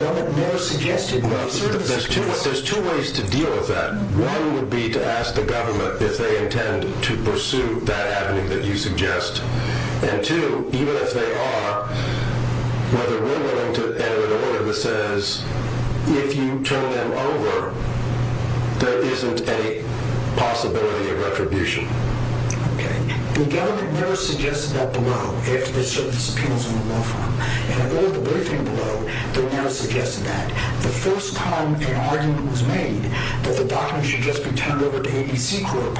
There's two ways to deal with that. One would be to ask the government if they intend to pursue that avenue that you suggest. And two, even if they are, whether we're willing to enter into an order that says if you turn them over, there isn't any possibility of retribution. The government never suggested that below, if there's certain appeals on the law firm. In a vote of the briefing below, they never suggested that. The first time an argument was made that the documents should just be turned over to ABC Group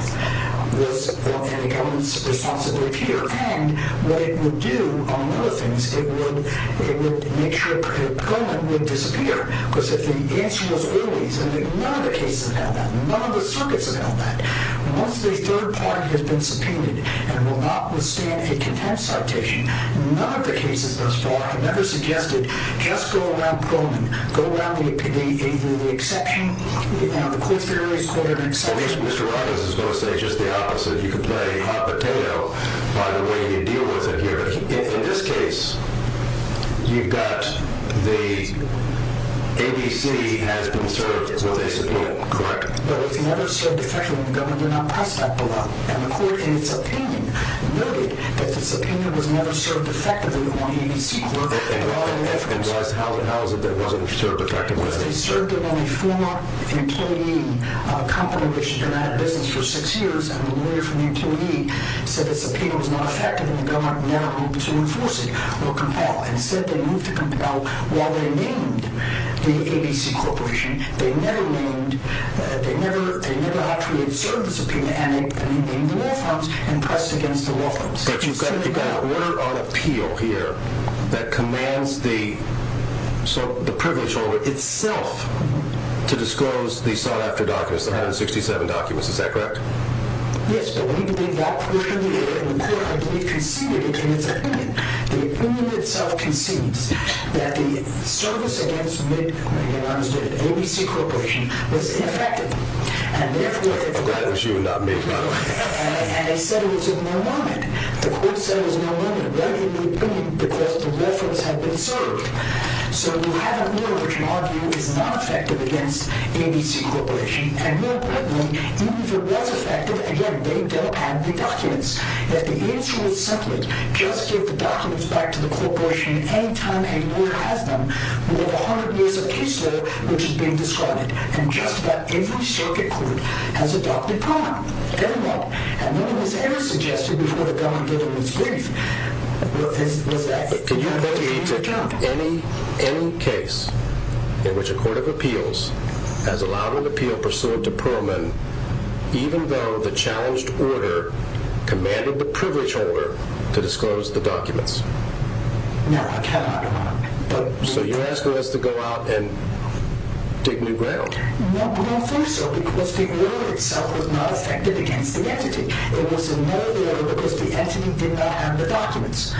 was in the government's responsibility here. And what it would do, among other things, it would make sure that the government would disappear. Because if the answer was early, none of the cases have had that. None of the circuits have had that. Once the third party has been subpoenaed and will not withstand a contempt citation, none of the cases thus far have ever suggested just go around Coleman. Go around the exception, the court's very recorded exception. At least Mr. Robbins is going to say just the opposite. You can play hot potato by the way you deal with it here. In this case, you've got the ABC has been served with a subpoena, correct? But it was never served effectively in the government. They're not priced that below. And the court in its opinion noted that the subpoena was never served effectively on ABC Group. And guys, how is it that it wasn't served effectively? Because they served it on a former employee, a company which had been out of business for six years. And the lawyer from the employee said the subpoena was not effective and the government never moved to enforce it or compel. Instead, they moved to compel while they named the ABC Corporation. They never actually observed the subpoena and they named the law firms and pressed against the law firms. But you've got an order of appeal here that commands the privilege order itself to disclose the sought-after documents, the 167 documents. Is that correct? Yes, but we believe that portion of the court, I believe, conceded it in its opinion. The opinion itself concedes that the service against mid-courts, the ABC Corporation, was ineffective. I'm glad that you're not mid-court. And they said it was a no-movement. The court said it was a no-movement. Why do you need opinion? Because the law firms have been served. So you have an order of appeal which you argue is not effective against ABC Corporation. And more importantly, even if it was effective, again, they don't have the documents. If the answer is separate, just give the documents back to the corporation any time a lawyer has them, we'll have a hundred years of case law, which is being described. And just about every circuit court has adopted Perlman. Very well. And none of this was ever suggested before the government gave it its brief. Can you point me to any case in which a court of appeals has allowed an appeal pursuant to Perlman, even though the challenged order commanded the privilege holder to disclose the documents? No, I cannot. So you're asking us to go out and dig new ground. No, we don't think so, because the order itself was not effective against the entity. It was a no-movement because the entity did not have the documents.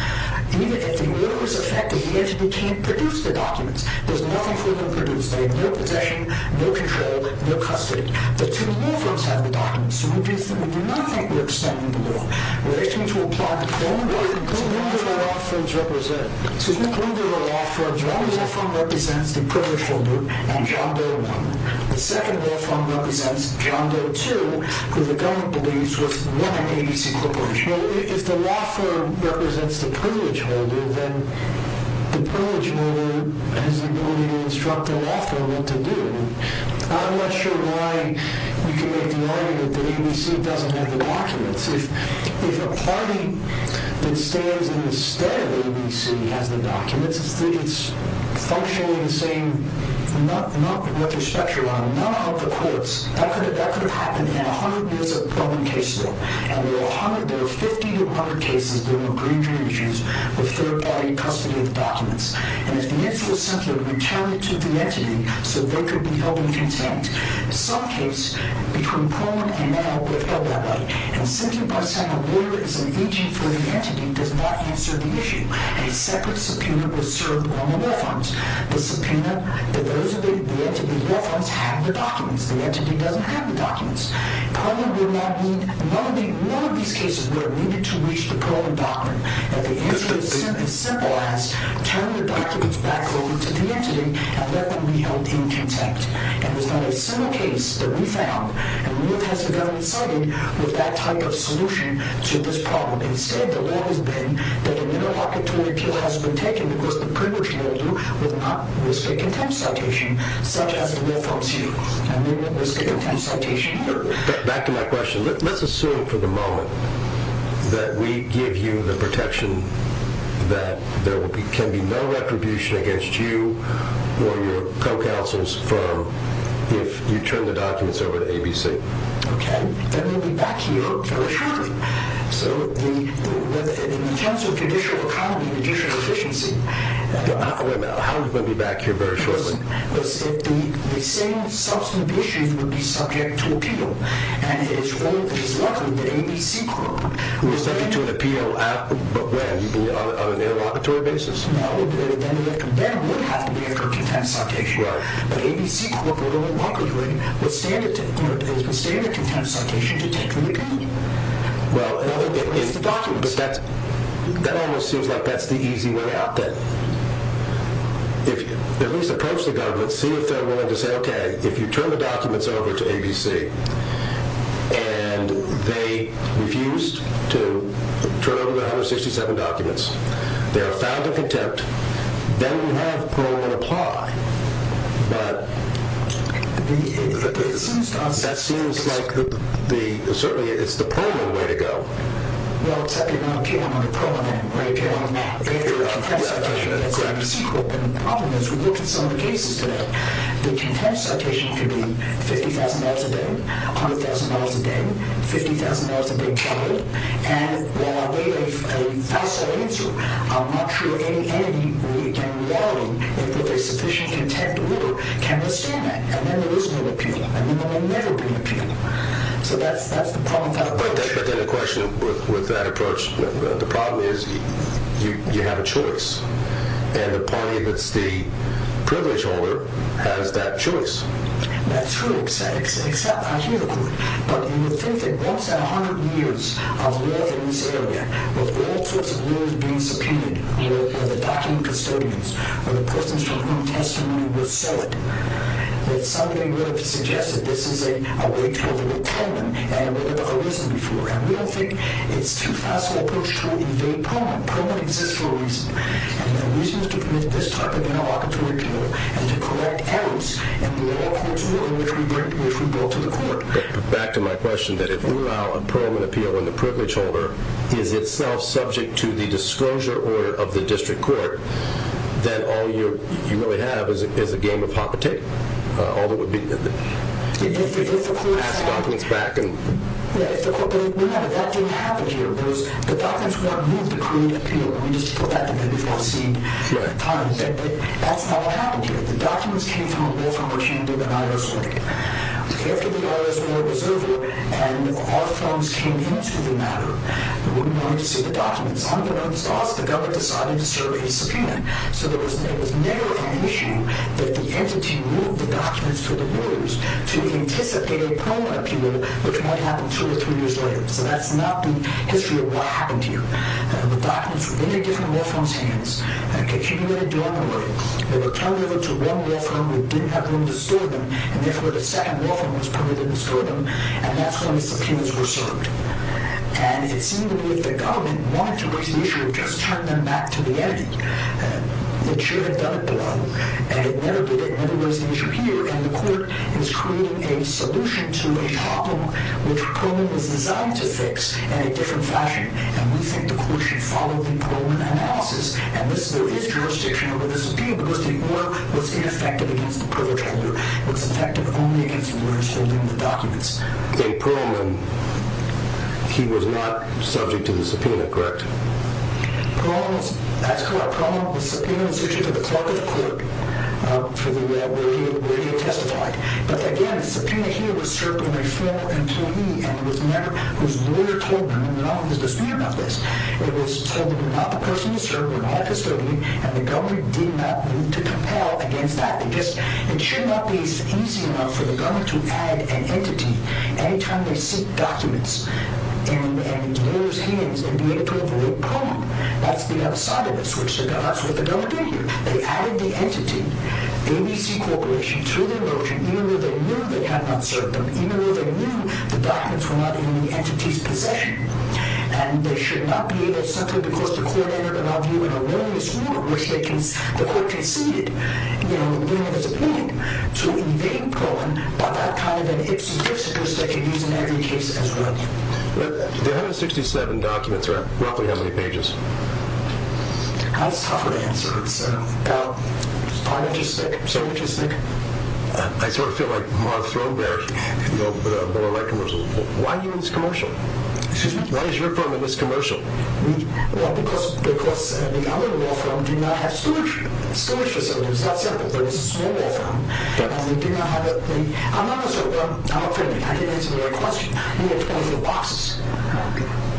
Even if the order was effective, the entity can't produce the documents. There's nothing for them to produce. They have no possession, no control, no custody. The two law firms have the documents. So we do not think we're extending the law. We're asking you to apply the law. So who do the law firms represent? So who do the law firms represent? One law firm represents the privilege holder and John Doe 1. The second law firm represents John Doe 2, who the government believes was running ABC Corporation. If the law firm represents the privilege holder, then the privilege holder has the ability to instruct the law firm what to do. I'm not sure why you can make the argument that ABC doesn't have the documents. If a party that stands in the stead of ABC has the documents, it's functionally the same. Not what you're speculating on. None of the courts. That could have happened in 100 years of Roman case law. And there are 50 to 100 cases of third-party custody of the documents. And it's essential to return it to the entity so they could be held in contempt. Some cases between Perlman and now were held that way. And simply by saying a lawyer is an agent for the entity does not answer the issue. A separate subpoena was served on the law firms. The subpoena that those of the entity's law firms have the documents. The entity doesn't have the documents. Perlman will not need none of these cases where it needed to reach the Perlman doctrine. And the answer is as simple as turn the documents back over to the entity and let them be held in contempt. And there's not a single case that we found that really has a gun in sight with that type of solution to this problem. Instead, the law has been that an interlocutory appeal has been taken because the privilege held you would not risk a contempt citation such as the law firms use. And they won't risk a contempt citation. Back to my question. Let's assume for the moment that we give you the protection that there can be no retribution against you or your co-counsel's firm if you turn the documents over to ABC. Okay. Then we'll be back here very shortly. So in terms of judicial economy and judicial efficiency Wait a minute. How are we going to be back here very shortly? The same substantive issue would be subject to appeal. And it's likely that ABC Corp would be subject to an appeal on an interlocutory basis. No. Then it would have to be a contempt citation. Right. But ABC Corp would only likely withstand a contempt citation to take the appeal. Well, that almost seems like that's the easy way out then. If you at least approach the government and see if they're willing to say, okay, if you turn the documents over to ABC and they refused to turn over the 167 documents, they are found of contempt, then we have parole and apply. But that seems like certainly it's the parole way to go. Well, except you're going to appeal on a pro bono, right? You're going to get a contempt citation against ABC Corp. And the problem is we looked at some of the cases today. The contempt citation could be $50,000 a day, $100,000 a day, $50,000 a big child. And while we have a false answer, I'm not sure any entity we can rely on with a sufficient contempt order can assume that. And then there is no appeal. And then there may never be an appeal. So that's the problem. But then the question with that approach, the problem is you have a choice. And the party that's the privilege holder has that choice. That's true, except I hear the point. But you would think that once in 100 years of law in this area, with all sorts of laws being subpoenaed, where the document custodians or the persons from whom testimony was sold, that somebody would have to suggest that this is a way to deal with Parliament and it would have arisen before. And we don't think it's too facile an approach to evade Parliament. Parliament exists for a reason. And the reason is to permit this type of interlocutory deal and to correct errors in the law for which we bring it to the court. But back to my question, that if we allow a Parliament appeal when the privilege holder is itself subject to the disclosure order of the district court, then all you really have is a game of hop-a-tick. All that would be is to ask documents back. Yeah, if the court believed me, that didn't happen here. The documents weren't moved to create appeal. We just put that in there because we want to see the time. But that's not what happened here. The documents came from a law firm or she didn't do the IRS work. If the IRS were a preserver and our phones came into the matter, they wouldn't want me to see the documents. The government decided to serve a subpoena. So there was never an issue that the entity moved the documents to the lawyers to anticipate a Parliament appeal, which might happen two or three years later. So that's not the history of what happened here. The documents were in the different law firms' hands. They were turned over to one law firm who didn't have room to store them, and therefore the second law firm was permitted to store them. And that's when the subpoenas were served. And it seemed to me that the government wanted to raise the issue of just turning them back to the entity. The chair had done it before, and it never did. It never raised the issue here, and the court is creating a solution to a problem which Perlman was designed to fix in a different fashion. And we think the court should follow the Perlman analysis. And there is jurisdiction over this appeal because the order was ineffective It was effective only against the lawyers holding the documents. In Perlman, he was not subject to the subpoena, correct? That's correct. Perlman was subpoenaed to the clerk of the court for the way he testified. But again, the subpoena here was served on a former employee and it was a member whose lawyer told him not to speak about this. It was told him not the person to serve, not a custodian, and the government did not move to compel against that. It should not be easy enough for the government to add an entity any time they seek documents and lawyers' hands and be able to avoid Perlman. That's the other side of this, which is what the government did here. They added the entity, ABC Corporation, to their motion even though they knew they had not served them, even though they knew the documents were not in the entity's possession. And they should not be able to simply because the court entered above you the court conceded the subpoena to evade Perlman by that kind of an ips and trips that they can use in every case as well. The 167 documents are roughly how many pages? That's a tougher answer. Five inches thick, seven inches thick. I sort of feel like Mark Throberg in the Bill of Rights commercial. Why are you in this commercial? Excuse me? Why is your firm in this commercial? Because the other law firms do not have storage facilities. It's not simple, but it's a small law firm. And they do not have the... I'm not going to answer your question. We have 24 boxes.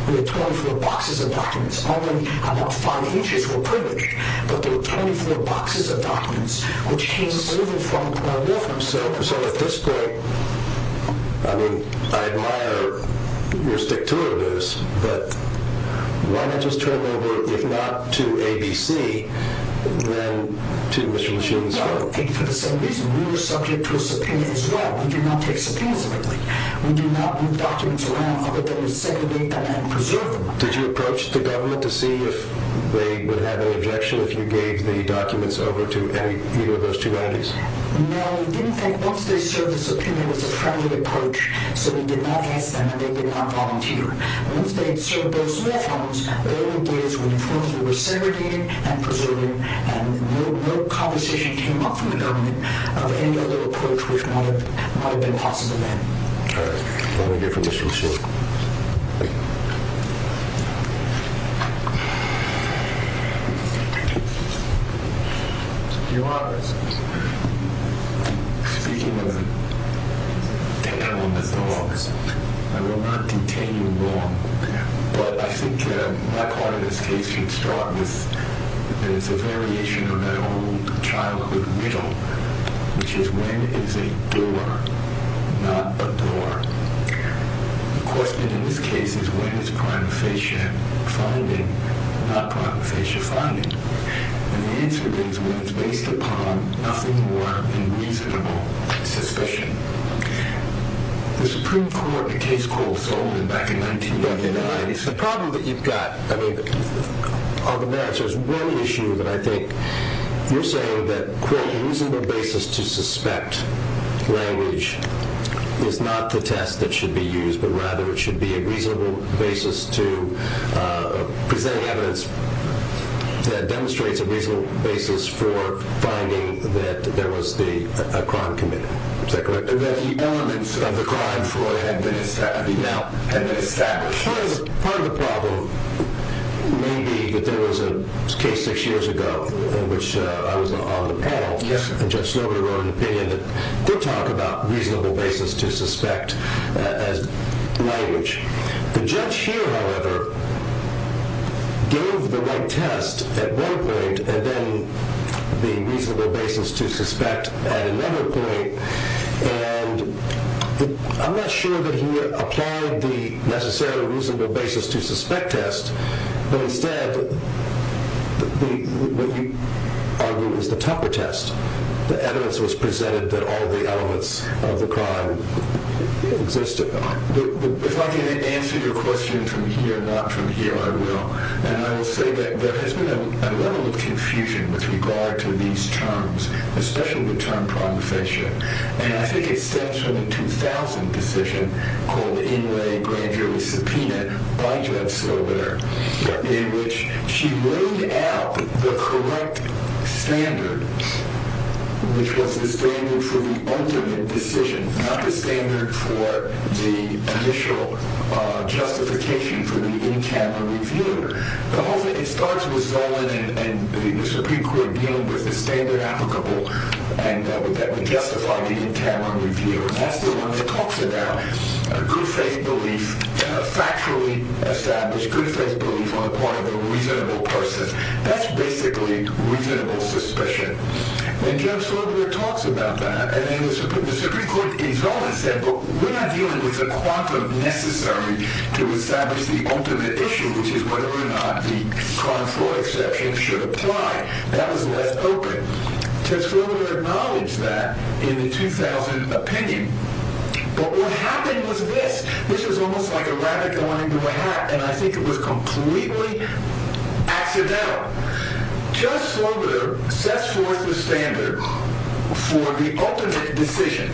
We have 24 boxes of documents. Only about five inches were printed, but there were 24 boxes of documents, which came from a law firm. So at this point, I mean, I admire your stick-to-it-as, but why not just turn it over, if not to ABC, then to Mr. LeShulman's firm? Well, for the same reason. We were subject to a subpoena as well. We do not take subpoenas lightly. We do not move documents around other than to segregate them and preserve them. Did you approach the government to see if they would have an objection if you gave the documents over to any of those two entities? No, we didn't think once they served the subpoena, it was a friendly approach, so we did not ask them, and they did not volunteer. Once they had served those subpoenas, they were engaged with the firms we were segregating and preserving, and no conversation came up from the government of any other approach which might have been possible then. All right. Let me get from Mr. LeShulman. Your Honor, speaking of detaining the wrongs, I will not detain you wrong, but I think my part of this case should start with a variation of that old childhood riddle, which is when is a doer not a door? The question in this case is when is prima facie finding not prima facie finding? And the answer is when it's based upon nothing more than reasonable suspicion. The Supreme Court in a case called Solon back in 1999, the problem that you've got, I mean, on the merits, there's one issue that I think you're saying that, quote, a reasonable basis to suspect language is not the test that should be used, but rather it should be a reasonable basis to present evidence that demonstrates a reasonable basis for finding that there was a crime committed. Is that correct? That the elements of the crime, Floyd, have been established. Part of the problem may be that there was a case six years ago in which I was on the panel and Judge Snowden wrote an opinion that did talk about reasonable basis to suspect language. The judge here, however, gave the right test at one point and then the reasonable basis to suspect at another point, and I'm not sure that he applied the necessary reasonable basis to suspect test, but instead what you argue is the Tupper test. The evidence was presented that all the elements of the crime existed. If I can answer your question from here, not from here, I will, and I will say that there has been a level of confusion with regard to these terms, especially the term prongfation, and I think it stems from the 2000 decision called the Inouye grand jury subpoena by Judge Snowden in which she laid out the correct standard, which was the standard for the ultimate decision, not the standard for the initial justification for the in-camera review. The whole thing starts with Zolan and the Supreme Court dealing with the standard applicable that would justify the in-camera review, and that's the one that talks about a good faith belief, a factually established good faith belief on the part of a reasonable person. That's basically reasonable suspicion, and Judge Snowden talks about that, and then the Supreme Court in Zolan said, but we're not dealing with the quantum necessary to establish the ultimate issue, which is whether or not the crime floor exception should apply. That was left open. Judge Sloboda acknowledged that in the 2000 opinion, but what happened was this. This was almost like a rabbit going into a hat, and I think it was completely accidental. Judge Sloboda sets forth the standard for the ultimate decision.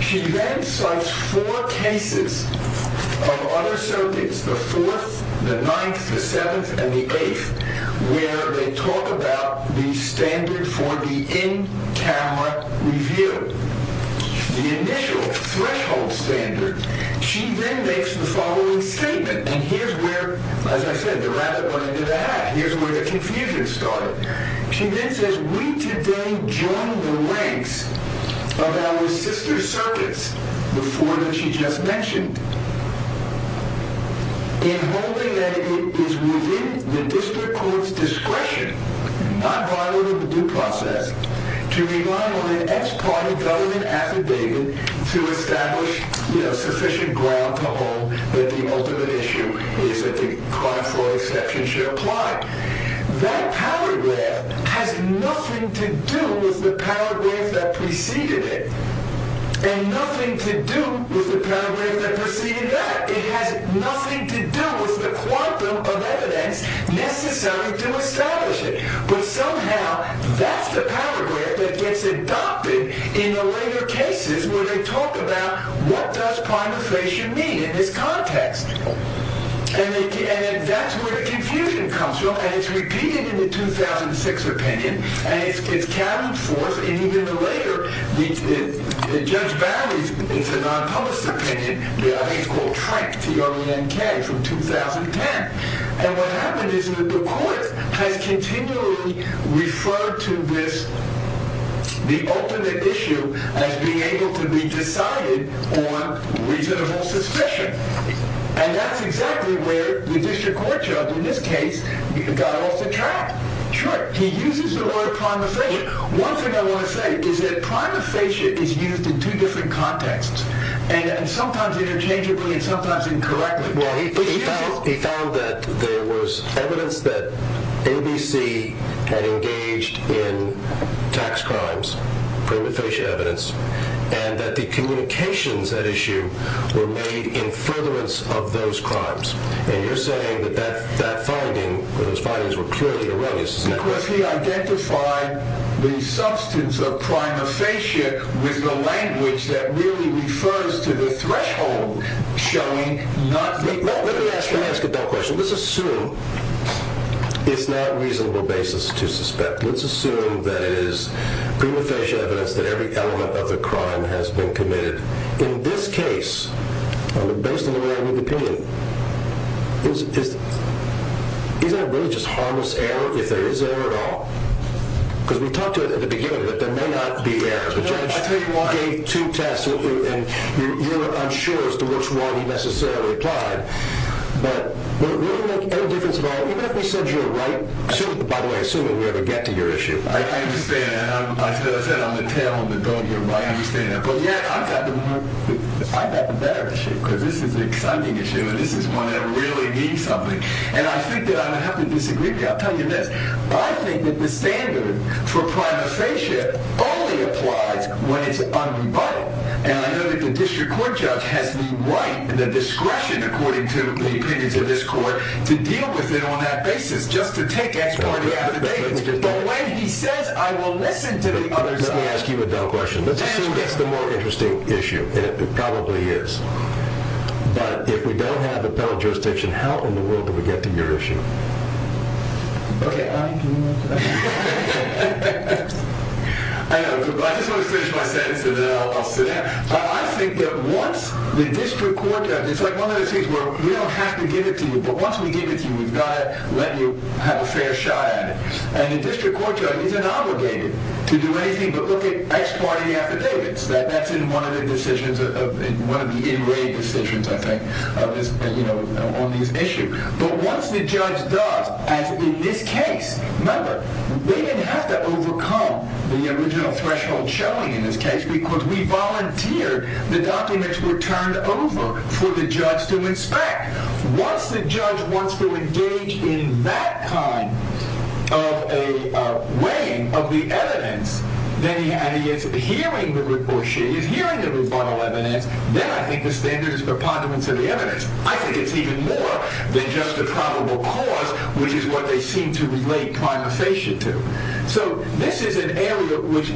She then cites four cases of other surveys, the fourth, the ninth, the seventh, and the eighth, where they talk about the standard for the in-camera review, the initial threshold standard. She then makes the following statement, and here's where, as I said, the rabbit went into the hat. Here's where the confusion started. She then says, we today join the ranks of our sister circuits, the four that she just mentioned, in holding that it is within the district court's discretion, not violated the due process, to rely on an ex parte government affidavit to establish sufficient ground to hold that the ultimate issue is that the crime floor exception should apply. That paragraph has nothing to do with the paragraph that preceded it and nothing to do with the paragraph that preceded that. It has nothing to do with the quantum of evidence necessary to establish it, but somehow that's the paragraph that gets adopted in the later cases where they talk about what does prima facie mean in this context, and that's where the confusion comes from, and it's repeated in the 2006 opinion, and it's counted forth in even the later, Judge Barney's, it's a non-published opinion, I think it's called Trank, T-R-A-N-K, from 2010, and what happened is that the court has continually referred to this, the ultimate issue, as being able to be decided on reasonable suspicion, and that's exactly where the district court judge, in this case, got off the track. Sure, he uses the word prima facie. One thing I want to say is that prima facie is used in two different contexts, and sometimes interchangeably and sometimes incorrectly. Well, he found that there was evidence that ABC had engaged in tax crimes, prima facie evidence, and that the communications at issue were made in furtherance of those crimes, and you're saying that those findings were clearly erroneous, isn't that correct? Because he identified the substance of prima facie with the language that really refers to the threshold showing not the... Let me ask you that question. Let's assume it's not a reasonable basis to suspect. Let's assume that it is prima facie evidence that every element of the crime has been committed. In this case, based on the way I read the opinion, is that really just harmless error if there is error at all? Because we talked to it at the beginning that there may not be error. The judge gave two tests, and you're unsure as to which one he necessarily applied. But will it really make any difference at all? Even if he said you're right, by the way, assuming we ever get to your issue. I understand that. I said I'm a tail on the dog here, but I understand that. But yet, I've got the better issue, because this is an exciting issue, and this is one that really means something. And I think that I don't have to disagree with you. I'll tell you this. I think that the standard for prima facie only applies when it's unrebutted. And I know that the district court judge has the right and the discretion, according to the opinions of this court, to deal with it on that basis, just to take ex parte out of the case. But when he says, I will listen to the other judge. Let me ask you another question. Let's assume that's the more interesting issue, and it probably is. But if we don't have appellate jurisdiction, how in the world do we get to your issue? Okay, I'm going to finish my sentence, and then I'll sit down. I think that once the district court judge, it's like one of those things where we don't have to give it to you, but once we give it to you, we've got to let you have a fair shot at it. And the district court judge isn't obligated to do anything but look at ex parte affidavits. That's in one of the in-ray decisions, I think, on this issue. But once the judge does, as in this case, remember, we didn't have to overcome the original threshold showing in this case because we volunteered. The documents were turned over for the judge to inspect. Once the judge wants to engage in that kind of a weighing of the evidence, then he is hearing the rebuttal evidence, then I think the standard is preponderance of the evidence. I think it's even more than just a probable cause, which is what they seem to relate prima facie to. So this is an area which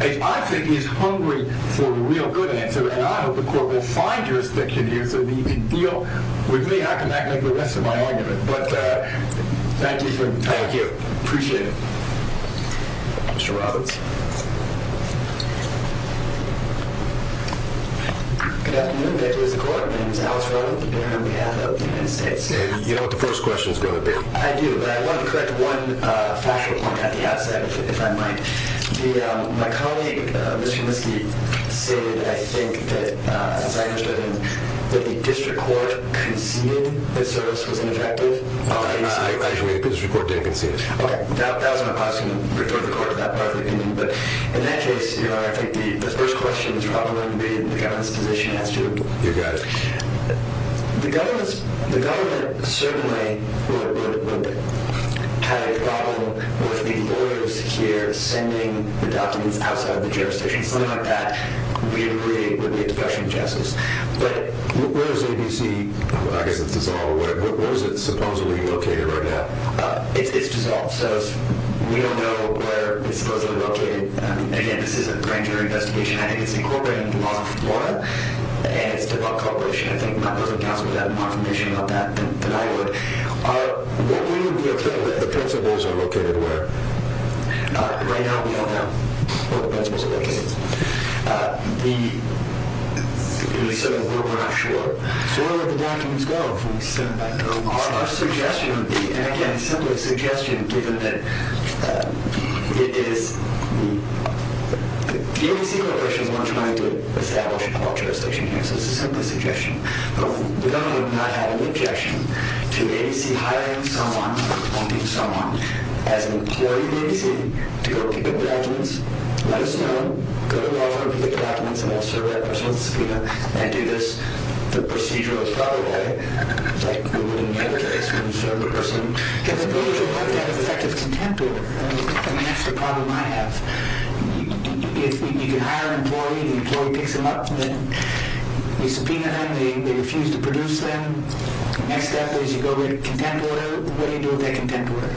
I think is hungry for the real good answer, and I hope the court will find jurisdiction here so they can deal with me. How can that make the rest of my argument? But thank you for coming here. Thank you. Appreciate it. Mr. Roberts. Good afternoon. Thank you, Mr. Court. My name is Alex Roberts, the baron on behalf of the United States. And you know what the first question is going to be. I do, but I want to correct one factual point at the outset, if I might. My colleague, Mr. Minsky, said I think that, as I understood him, that the district court conceded the service was ineffective. Actually, the district court didn't concede it. Okay. That was my question to the court at that point. But in that case, Your Honor, I think the first question is probably going to be the government's position as to You got it. The government certainly would have a problem with the lawyers here sending the documents outside of the jurisdiction. Something like that would be a question of justice. But where is ABC? I guess it's dissolved. Where is it supposedly located right now? It's dissolved. So we don't know where it's supposedly located. Again, this is a grand jury investigation. I think it's incorporating the laws of Florida, and it's developed cooperation. I think my colleague, Counselor, would have more information about that than I would. What would you be okay with? The principles are located where? Right now, we don't know where the principles are located. So we're not sure. So where would the documents go? Our suggestion would be, and again, simply a suggestion given that it is The ABC Corporation is not trying to establish a culture of station canceling. It's a simple suggestion. The government would not have an objection to ABC hiring someone or appointing someone as an employee of ABC to go pick up the documents, let us know, go to law firm, pick up the documents, and I'll serve that person at the subpoena, and do this. The procedure would probably, like we would in any other case, we would serve the person. I would like to have an effective contemporary. That's the problem I have. If you can hire an employee, the employee picks them up, and then you subpoena them, they refuse to produce them, the next step is you go to a contemporary. What do you do with that contemporary?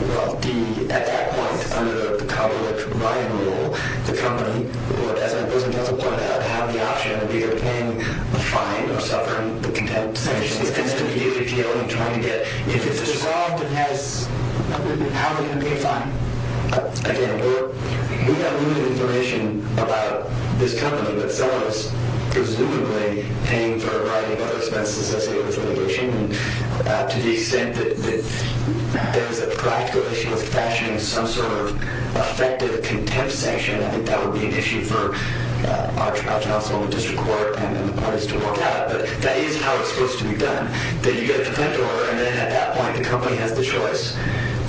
Well, at that point, under the public buy-in rule, the company doesn't have the option of either paying the fine or suffering the contempt. If it's resolved, how are they going to pay the fine? Again, we have limited information about this company that sells, presumably, paying for a variety of other expenses associated with litigation. To the extent that there is a practical issue with fashioning some sort of effective contempt sanction, I think that would be an issue for our tribunal, as well as the district court, and the parties to work out. But that is how it's supposed to be done. Then you go to the contemporary, and then at that point, the company has the choice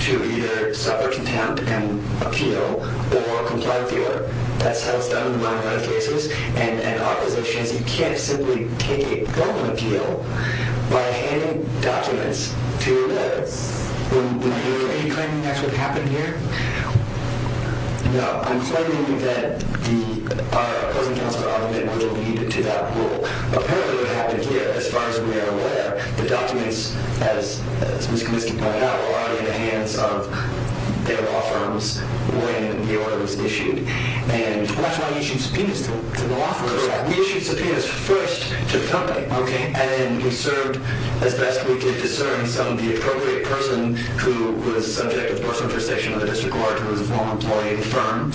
to either suffer contempt and appeal or comply with the order. That's how it's done in a lot of other cases. And in our positions, you can't simply take a broken appeal by handing documents to the judge. Are you claiming that's what happened here? No. I'm claiming that our opposing counsel argument will lead to that rule. Apparently, what happened here, as far as we are aware, the documents, as Ms. Kaminsky pointed out, were already in the hands of their law firms when the order was issued. And that's why you issued subpoenas to the law firms. Correct. We issued subpoenas first to the company. Okay. And we served, as best we could discern, some of the appropriate person who was a subject of personal intercession with the district court, who was a former employee of the firm.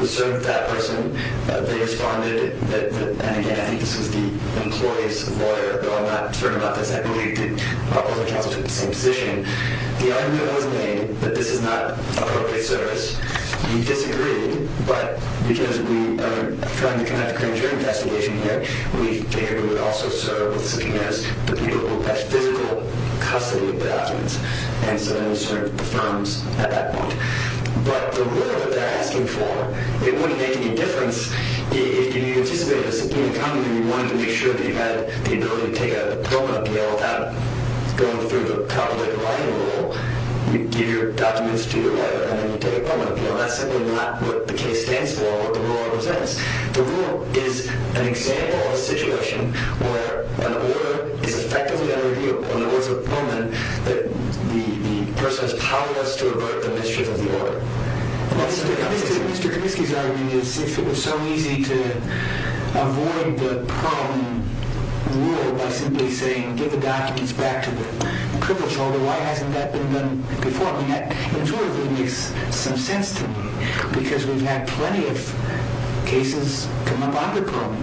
We served that person. They responded that, and again, I think this was the employee's lawyer, though I'm not certain about this. I believe that our opposing counsel took the same position. The argument was made that this is not appropriate service. We disagreed. But because we are trying to conduct a crematorium investigation here, we figured we would also serve with subpoenas to people who have physical custody of the documents. And so then we served the firms at that point. But the rule that they're asking for, it wouldn't make any difference if you anticipated a subpoena coming and you wanted to make sure that you had the ability to take a permanent appeal without going through the public writing rule. You give your documents to your lawyer and then you take a permanent appeal. That's simply not what the case stands for or what the rule represents. The rule is an example of a situation where an order is effectively unreviewable. In other words, a moment that the person has powered us to avoid the mischief of the order. Mr. Kaminsky's argument is if it was so easy to avoid the Perlman rule by simply saying, give the documents back to the crippled shoulder, why hasn't that been done before? And that intuitively makes some sense to me because we've had plenty of cases come up under Perlman.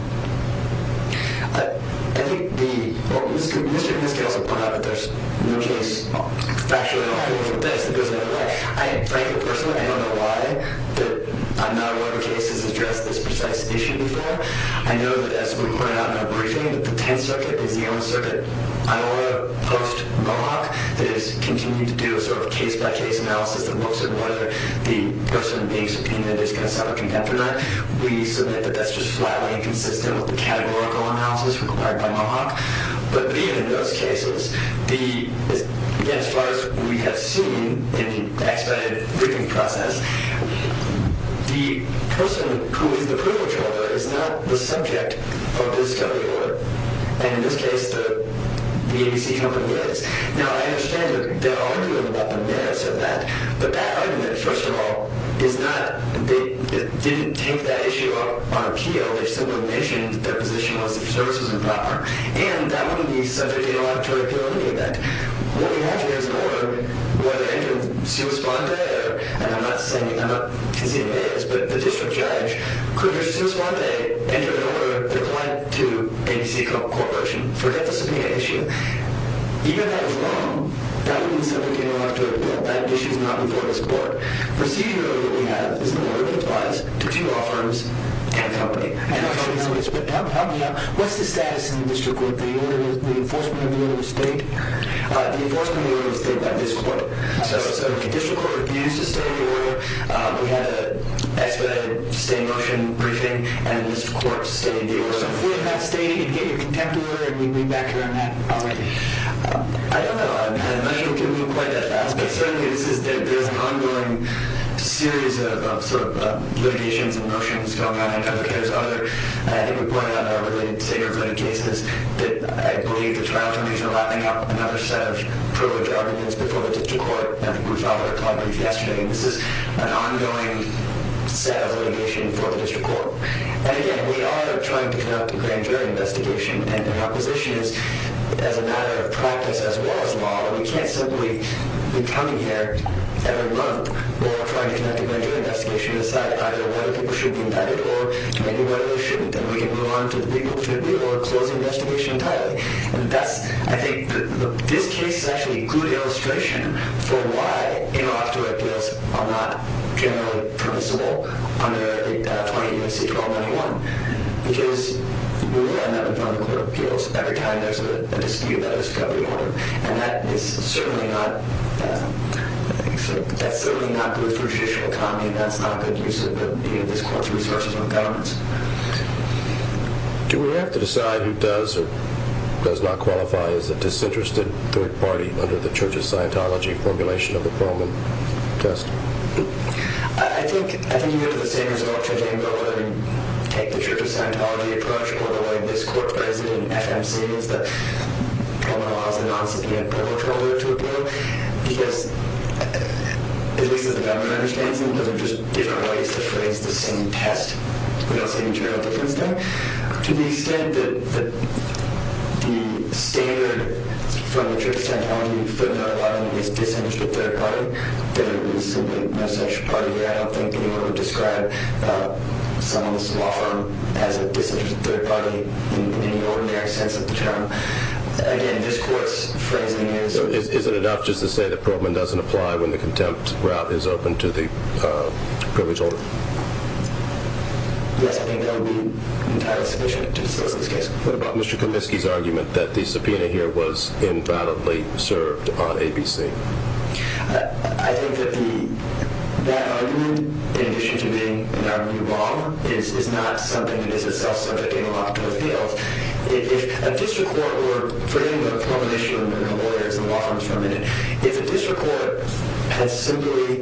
I think the – well, Mr. Kaminsky also pointed out that there's no case factually that goes that way. I, frankly, personally, I don't know why that I'm not aware of cases addressed this precise issue before. I know that, as we pointed out in our briefing, that the Tenth Circuit is the only circuit I know of post-Mohawk that has continued to do a sort of case-by-case analysis that looks at whether the person being subpoenaed is going to suffer contempt or not. We submit that that's just flatly inconsistent with the categorical analysis required by Mohawk. But even in those cases, the – again, as far as we have seen in the expedited briefing process, the person who is the crippled shoulder is not the subject of this W order. And in this case, the ABC company is. Now, I understand their argument about the merits of that. But that argument, first of all, is not – they didn't take that issue on appeal. They simply mentioned their position was that the service was improper. And that wouldn't be subject to an electoral appeal in any event. What we have here is an order where they're entitled to subpoena. And I'm not saying – I'm not conceding it is, but the district judge could, under subpoena, enter an order that applied to ABC Corporation for that subpoena issue. But even if that is wrong, that would be subject to an electoral appeal. That issue is not before this court. Procedural order we have is an order that applies to two law firms and a company. And a company is what it's – help me out. What's the status in the district court? The enforcement of the order of the state? The enforcement of the order of the state by this court. So the district court abused the state order. We had an expedited state motion briefing. And this court stayed in the order. So if we didn't have state, you'd get your contempt order, and we'd be back here on that already. I don't know. I'm not sure we can move quite that fast. But certainly this is – there's an ongoing series of sort of litigations and motions going on. I don't know if there's other. I think we pointed out in our related case that I believe the trial attorneys are lapping up another set of privilege arguments before the district court. And we filed a complaint yesterday. And this is an ongoing set of litigation before the district court. And, again, we are trying to conduct a grand jury investigation. And our position is, as a matter of practice, as well as law, we can't simply be coming here every month while trying to conduct a grand jury investigation to decide either whether people should be indicted or maybe whether they shouldn't. Then we can move on to the legal tribunal or close the investigation entirely. And that's – I think this case is actually a good illustration for why interoperative appeals are not generally permissible under 20 U.S.C. 1291, because we will end up with underoperative appeals every time there's a dispute about a discovery order. And that is certainly not – that's certainly not good for judicial economy. That's not good use of this court's resources on the government. Do we have to decide who does or does not qualify as a disinterested third party under the Church's Scientology formulation of the Perlman test? I think you get to the same result, Judge Engel, whether we take the Church's Scientology approach or whether we let this court president, F.M. Siemens, that Perlman allows the non-CPF perpetrator to appeal, because, at least as the government understands it, there are just different ways to phrase the same test. We don't see any general difference there. To the extent that the standard from the Church's Scientology footnote is disinterested third party, there is simply no such party. I don't think anyone would describe someone's law firm as a disinterested third party in the ordinary sense of the term. Again, this court's phrasing is – Is it enough just to say that Perlman doesn't apply when the contempt route is open to the privilege holder? Yes, I think that would be entirely sufficient to disclose this case. What about Mr. Kaminsky's argument that the subpoena here was invalidly served on ABC? I think that that argument, in addition to being in our new law, is not something that is itself subjecting a law firm to appeal. If a district court were – forgive me, but a Perlman issue, and there are no lawyers in the law firms for a minute – if a district court had simply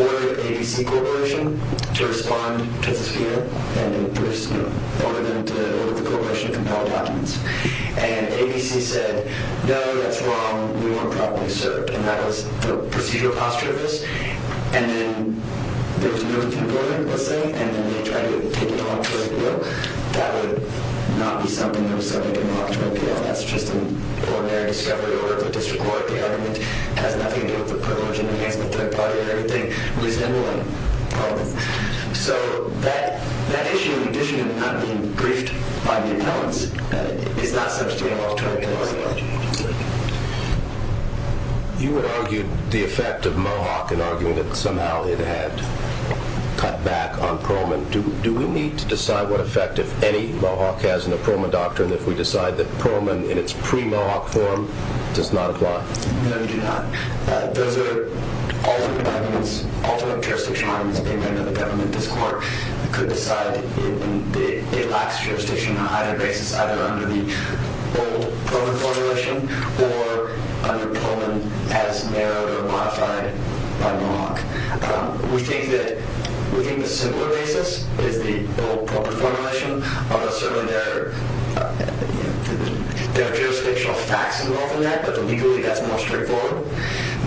ordered ABC Corporation to respond to the subpoena and ordered them to order the corporation to compel the documents, and ABC said, no, that's wrong, we weren't properly served, and that was the procedural posture of this, and then there was a move from Perlman, let's say, and then they tried to take it on for a deal, that would not be something that was subjecting a law firm to appeal. I think that's just an ordinary discovery. The order of the district court, the argument, has nothing to do with the privilege in the hands of the third party, and everything was invalid. So that issue, in addition to not being briefed by the appellants, is not subjecting a law firm to appeal. You had argued the effect of Mohawk, and argued that somehow it had cut back on Perlman. Do we need to decide what effect, if any, Mohawk has on the Perlman doctrine if we decide that Perlman, in its pre-Mohawk form, does not apply? No, we do not. Those are alternate jurisdictions, depending on the government discourse, that could decide that it lacks jurisdiction on either basis, either under the old Perlman formulation, or under Perlman as narrowed or modified by Mohawk. We think the simpler basis is the old Perlman formulation, although certainly there are jurisdictional facts involved in that, but legally that's more straightforward.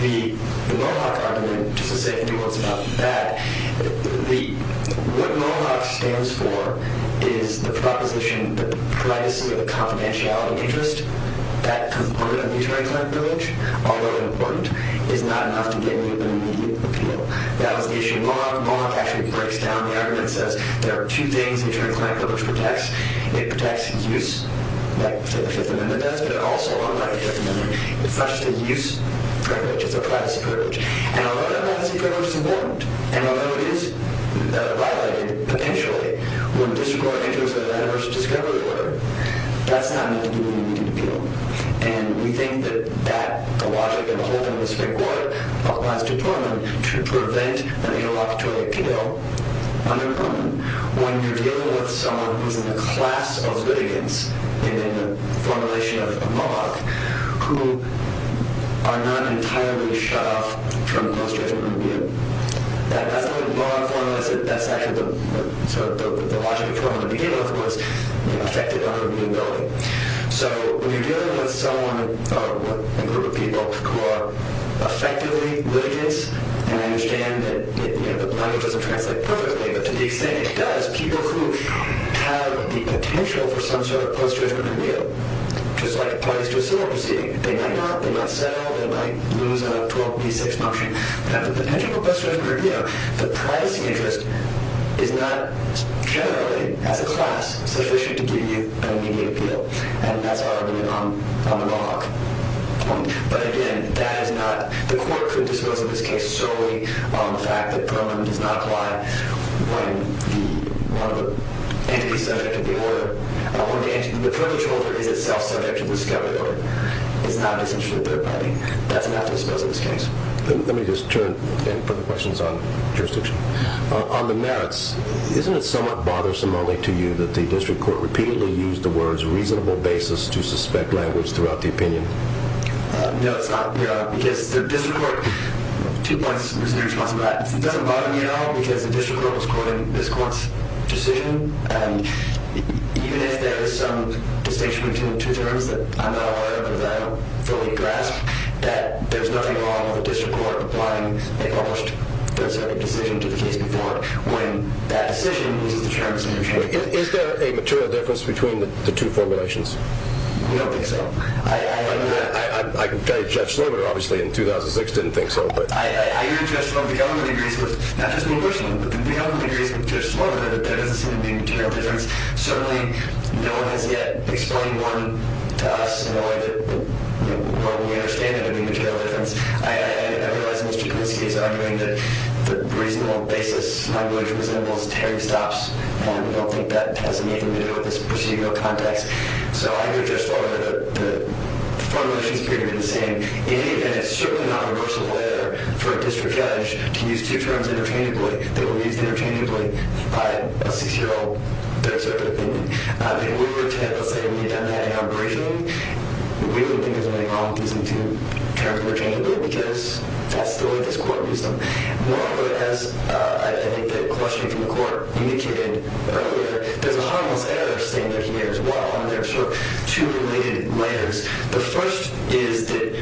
The Mohawk argument, just to say a few words about that, what Mohawk stands for is the proposition that the privacy or the confidentiality of interest that component of maternity clinic privilege, although important, is not enough to get you an immediate appeal. That was the issue in Mohawk. Mohawk actually breaks down the argument and says there are two things maternity clinic privilege protects. It protects use, like the Fifth Amendment does, but it also, unlike the Fifth Amendment, it's not just a use privilege. It's a privacy privilege. And although that privacy privilege is important and although it is violated, potentially, when a district court enters an adverse discovery order, that's not meant to get you an immediate appeal. And we think that that, the logic of the whole thing, applies to Portman to prevent an interlocutory appeal under Portman when you're dealing with someone who's in the class of litigants in the formulation of Mohawk who are not entirely shut off from illustrative remuneration. That's not what Mohawk formalized. That's actually the logic of Portman in the beginning, of course, affected on remunerability. So when you're dealing with someone, or a group of people, who are effectively litigants, and I understand that the language doesn't translate perfectly, but to the extent it does, people who have the potential for some sort of post-judgmental appeal, just like parties to a civil proceeding, they might not, they might settle, they might lose a 12B6 function, but the potential for post-judgmental appeal, the privacy interest is not generally, as a class, sufficient to give you an immediate appeal. And that's already on the Mohawk point. But again, that is not, the court could dispose of this case solely on the fact that Perlman does not apply when one of the entities subject to the order, or the furniture holder is itself subject to discovery order. It's not essential for the third party. That's not disposed of in this case. Let me just turn and put the questions on jurisdiction. On the merits, isn't it somewhat bothersome only to you that the district court repeatedly used the words reasonable basis to suspect language throughout the opinion? No, it's not, because the district court, two points in response to that. It doesn't bother me at all, because the district court was quoting this court's decision, and even if there is some distinction between the two terms that I'm not aware of or that I don't fully grasp, that there's nothing wrong with the district court applying a published third-circuit decision to the case before when that decision is determined to be changed. Is there a material difference between the two formulations? No, I don't think so. I can tell you Jeff Slover, obviously, in 2006, didn't think so. I hear Jeff Slover. The other thing he agrees with, not just me personally, but the other thing he agrees with Jeff Slover, that there doesn't seem to be a material difference. Certainly, no one has yet explained more to us in a way that we understand there to be a material difference. I realize Mr. Kuliski is arguing that the reasonable basis in which it resembles Terry Stops, and I don't think that has anything to do with this procedural context. So I agree with Jeff Slover that the formulations appear to be the same. And it's certainly not a universal way for a district judge to use two terms interchangeably that were used interchangeably by a six-year-old third-circuit opinion. If we were to, let's say, have done that in our briefing, we wouldn't think there's anything wrong with using two terms interchangeably, because that's the way this court used them. As I think the question from the court indicated earlier, there's a harmless error statement here as well, and there are sort of two related layers. The first is that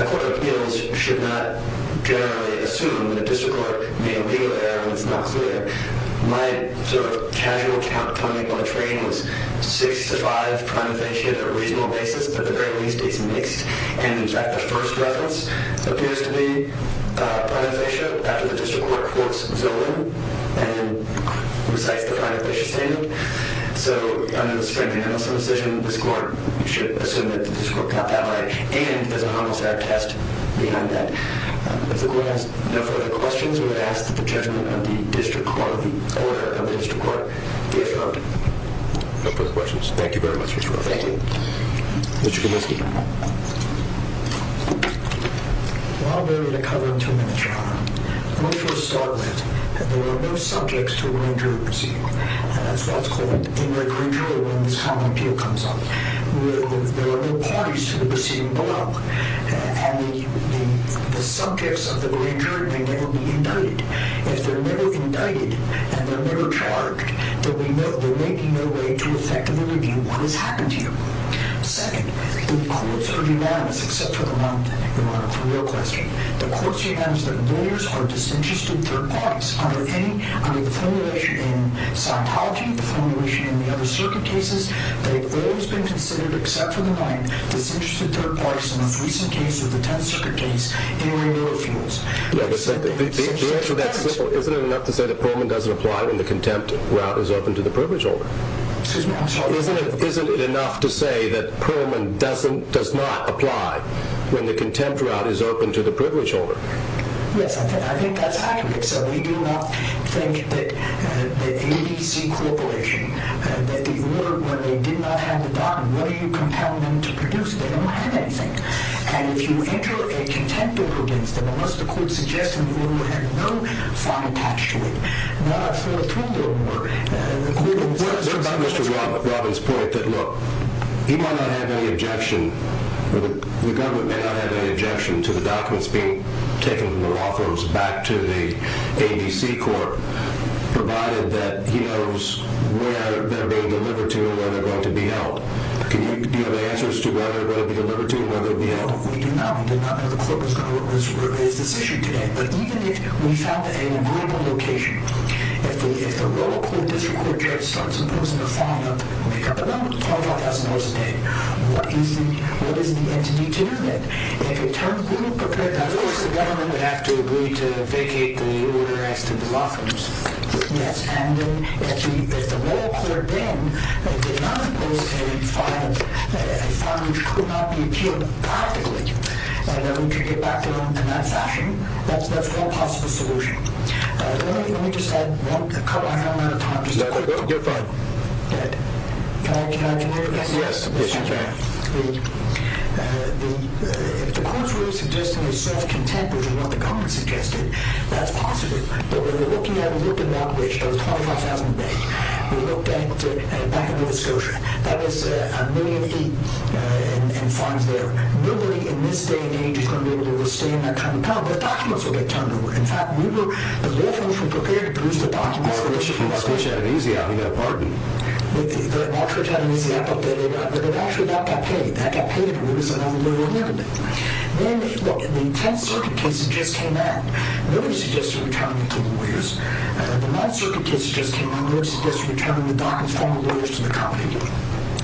a court of appeals should not generally assume that a district court made a legal error when it's not clear. My sort of casual count coming from my training was six to five prime offensia on a reasonable basis, but the very least, it's mixed. And in fact, the first reference appears to be prime offensia after the district court courts Zillow and recites the prime offensia statement. So under the Springer-Hendelson decision, this court should assume that the district court got that right, and there's a harmless error test behind that. If the court has no further questions, we would ask that the judgment of the district court, the order of the district court, be affirmed. No further questions. Thank you very much, Mr. Slover. Thank you. Mr. Kaminsky. Well, I'll give you the cover in two minutes, Your Honor. I want to first start with that there are no subjects to a grand jury proceeding. That's what's called in the grand jury when this common appeal comes up. There are no parties to the proceeding below, and the subjects of the grand jury may never be indicted. If they're never indicted and they're never charged, then we know there may be no way to effectively review what has happened to you. Second, the courts are unanimous except for the one thing, Your Honor, for your question. The courts are unanimous that lawyers are disinterested third parties under the formulation in Scientology, the formulation in the other circuit cases that have always been considered, except for the one, disinterested third parties in the most recent case of the Tenth Circuit case in Randolph Fields. The answer to that is simple. Isn't it enough to say that Pullman doesn't apply when the contempt route is open to the privilege holder? Excuse me, I'm sorry. Isn't it enough to say that Pullman does not apply when the contempt route is open to the privilege holder? Yes, I think that's accurate. So we do not think that the EDC corporation, that the order where they did not have the bond, what do you compel them to produce? They don't have anything. And if you enter a contempt order against them, unless the court suggests an order with no fine attached to it, then I feel a twinge of worry. What about Mr. Robbins' point that, look, he might not have any objection, the government may not have any objection to the documents being taken from the law firms back to the ADC court, provided that he knows where they're being delivered to and where they're going to be held. Do you have answers to where they're going to be delivered to and where they're going to be held? We do not. We did not know the court was going to look at his decision today. But even if we found a vulnerable location, if the royal court district court judge starts imposing a fine of, we'll make up a number, $25,000 a day, what is the entity to do that? If it turns blue, prepare to... Now, of course, the government would have to agree to vacate the order as to the law firms. Yes. And if the royal court then did not impose a fine, a fine which could not be appealed practically, that we could get back to them in that fashion, that's one possible solution. Let me just add one... I know I'm out of time. No, no, no, you're fine. Can I... Yes, of course you can. If the court's really suggesting a self-contempt, which is what the government suggested, that's possible. But when we're looking at a location of $25,000 a day, we look back at Nova Scotia. That is a million feet in fines there. Nobody in this day and age is going to be able to withstand that kind of problem. The documents will get turned over. In fact, we were... The law firms were prepared to produce the documents... The switch had an easy out. He got barred. The switch had an easy out, but it actually got paid. That got paid, and it was another million a day. Then, look, the 10th Circuit case just came out. Nobody suggested returning the lawyers. The 9th Circuit case just came out. Nobody suggested returning the documents from the lawyers to the company.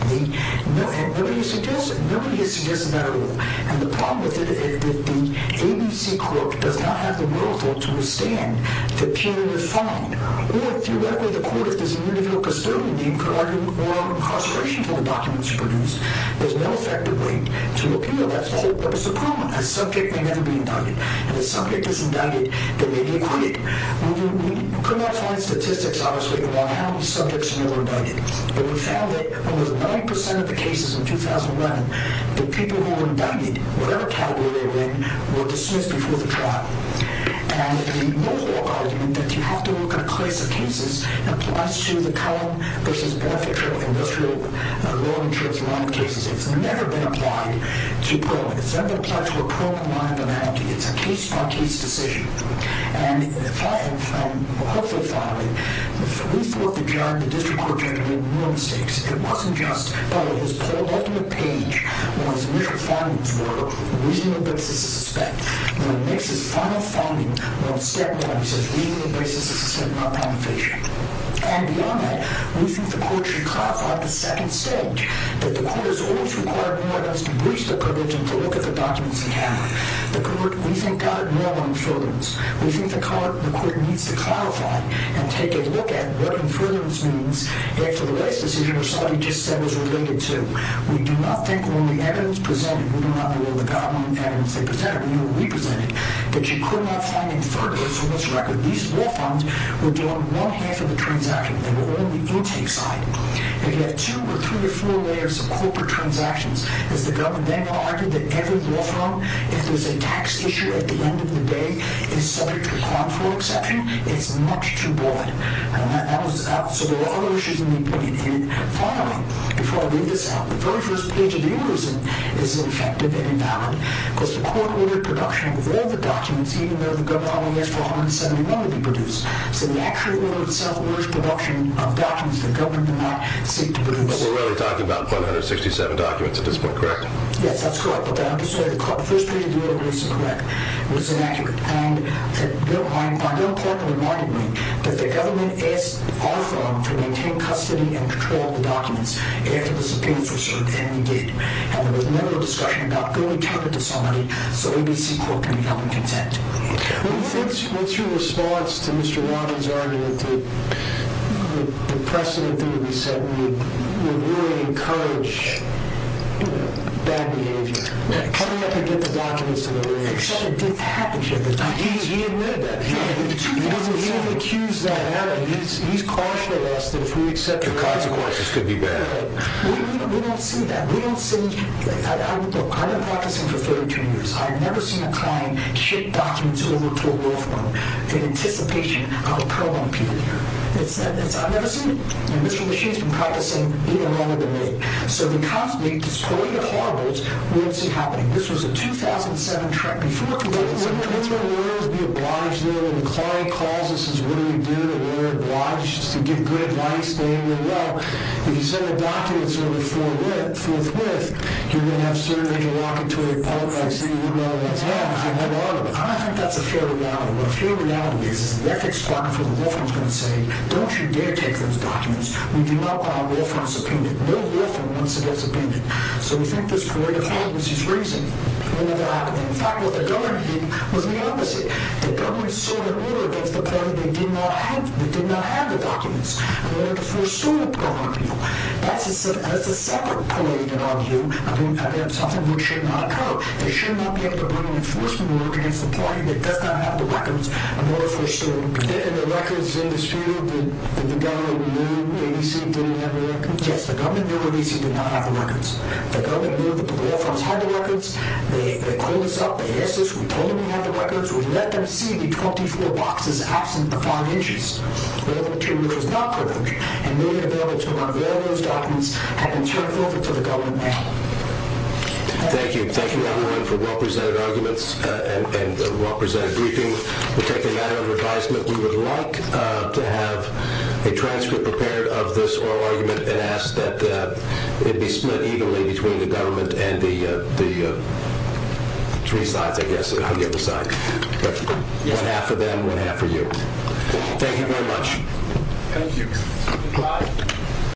And nobody has suggested that at all. And the problem with it is that the ABC court does not have the wherewithal to withstand the punitive fine. Or, theoretically, the court, if there's an individual custodian, could argue for incarceration for the documents produced. There's no effective way to appeal that. That's the problem. A subject may never be indicted. If a subject is indicted, they may be acquitted. We could not find statistics, obviously, about how subjects may be indicted. But we found that almost 90% of the cases in 2011, the people who were indicted, whatever category they were in, were dismissed before the trial. And the local argument that you have to look at a class of cases applies to the common versus benefit-trivial industrial law insurance line of cases. It's never been applied to parole. It's never applied to a parole-compliant banality. It's a case-by-case decision. And, hopefully, finally, we thought that John, the district court judge, made no mistakes. It wasn't just that what his poll ultimate page or his initial findings were a reasonable basis to suspect. When it makes his final finding, well, it stems from what he says, a reasonable basis to suspect non-penetration. And, beyond that, we think the court should clarify the second stage, that the court has always required more of us to breach the privilege and to look at the documents and have them. The court, we think, got it wrong on insurance. We think the court needs to clarify that and take a look at what infertile means and for the rest, this is what somebody just said was related to. We do not think when the evidence presented, we do not know what the government evidence they presented, we know what we presented, that you could not find infertile for this record. These law firms were doing one-half of the transaction. They were all on the intake side. If you had two or three or four layers of corporate transactions, has the government then argued that every law firm, if there's a tax issue at the end of the day, is subject to harmful exception? It's much too broad. So there are other issues in the opinion. And finally, before I leave this out, the very first page of the University is ineffective and invalid. Because the court ordered production of all the documents, even though the government only asked for 171 to be produced. So the actual order itself was production of documents the government did not seek to produce. But we're really talking about 167 documents at this point, correct? But I understand the first page of the University was incorrect, was inaccurate. And I know the court reminded me that the government asked all firms to maintain custody and control of the documents after the subpoenas were served. And they did. And there was never a discussion about going to turn it to somebody so ABC Court can be held in consent. What's your response to Mr. Romney's argument that the precedent that he said would really encourage bad behavior? Coming up and getting the documents to the lawyers. He admitted that. He didn't accuse that. He's cautioned us that if we accept... The consequences could be bad. We don't see that. We don't see... Look, I've been practicing for 32 years. I've never seen a client ship documents over to a law firm in anticipation of a prolonged period. I've never seen it. And Mr. LeMachine's been practicing even longer than me. So the conflict is totally horrible. We don't see it happening. This was a 2007 trial. Before... When the lawyers be obliged, when the client calls and says, what do we do? We're obliged to give good advice. If you send the documents over forthwith, you're going to have certain interlocutory politics that you wouldn't otherwise have. I think that's a fair reality. A fair reality is that the ethics department for the law firm is going to say, don't you dare take those documents. We do not buy a law firm's subpoena. No law firm wants to get subpoenaed. So we think there's great efficacy's reason. We don't know what happened. In fact, what the government did was the opposite. The government sought an order against the party that did not have the documents. And they were the first to go on people. That's a separate political argument. I think that's something which should not occur. They should not be able to bring an enforcement order against a party that does not have the records of what was foreseen. And the records in dispute, the government knew ABC didn't have the records? Yes, the government knew ABC did not have the records. The government knew that the law firms had the records. They called us up, they asked us, we told them we had the records. We let them see the 24 boxes absent the five inches. We were able to, which was not perfect, and we were able to have all those documents have been turned over to the government now. Thank you. Thank you, everyone, for well-presented arguments and well-presented briefing. We'll take a matter of advisement. We would like to have a transcript prepared of this oral argument and ask that it be split evenly between the government and the three sides, I guess, on the other side. One half for them, one half for you. Thank you very much. Thank you.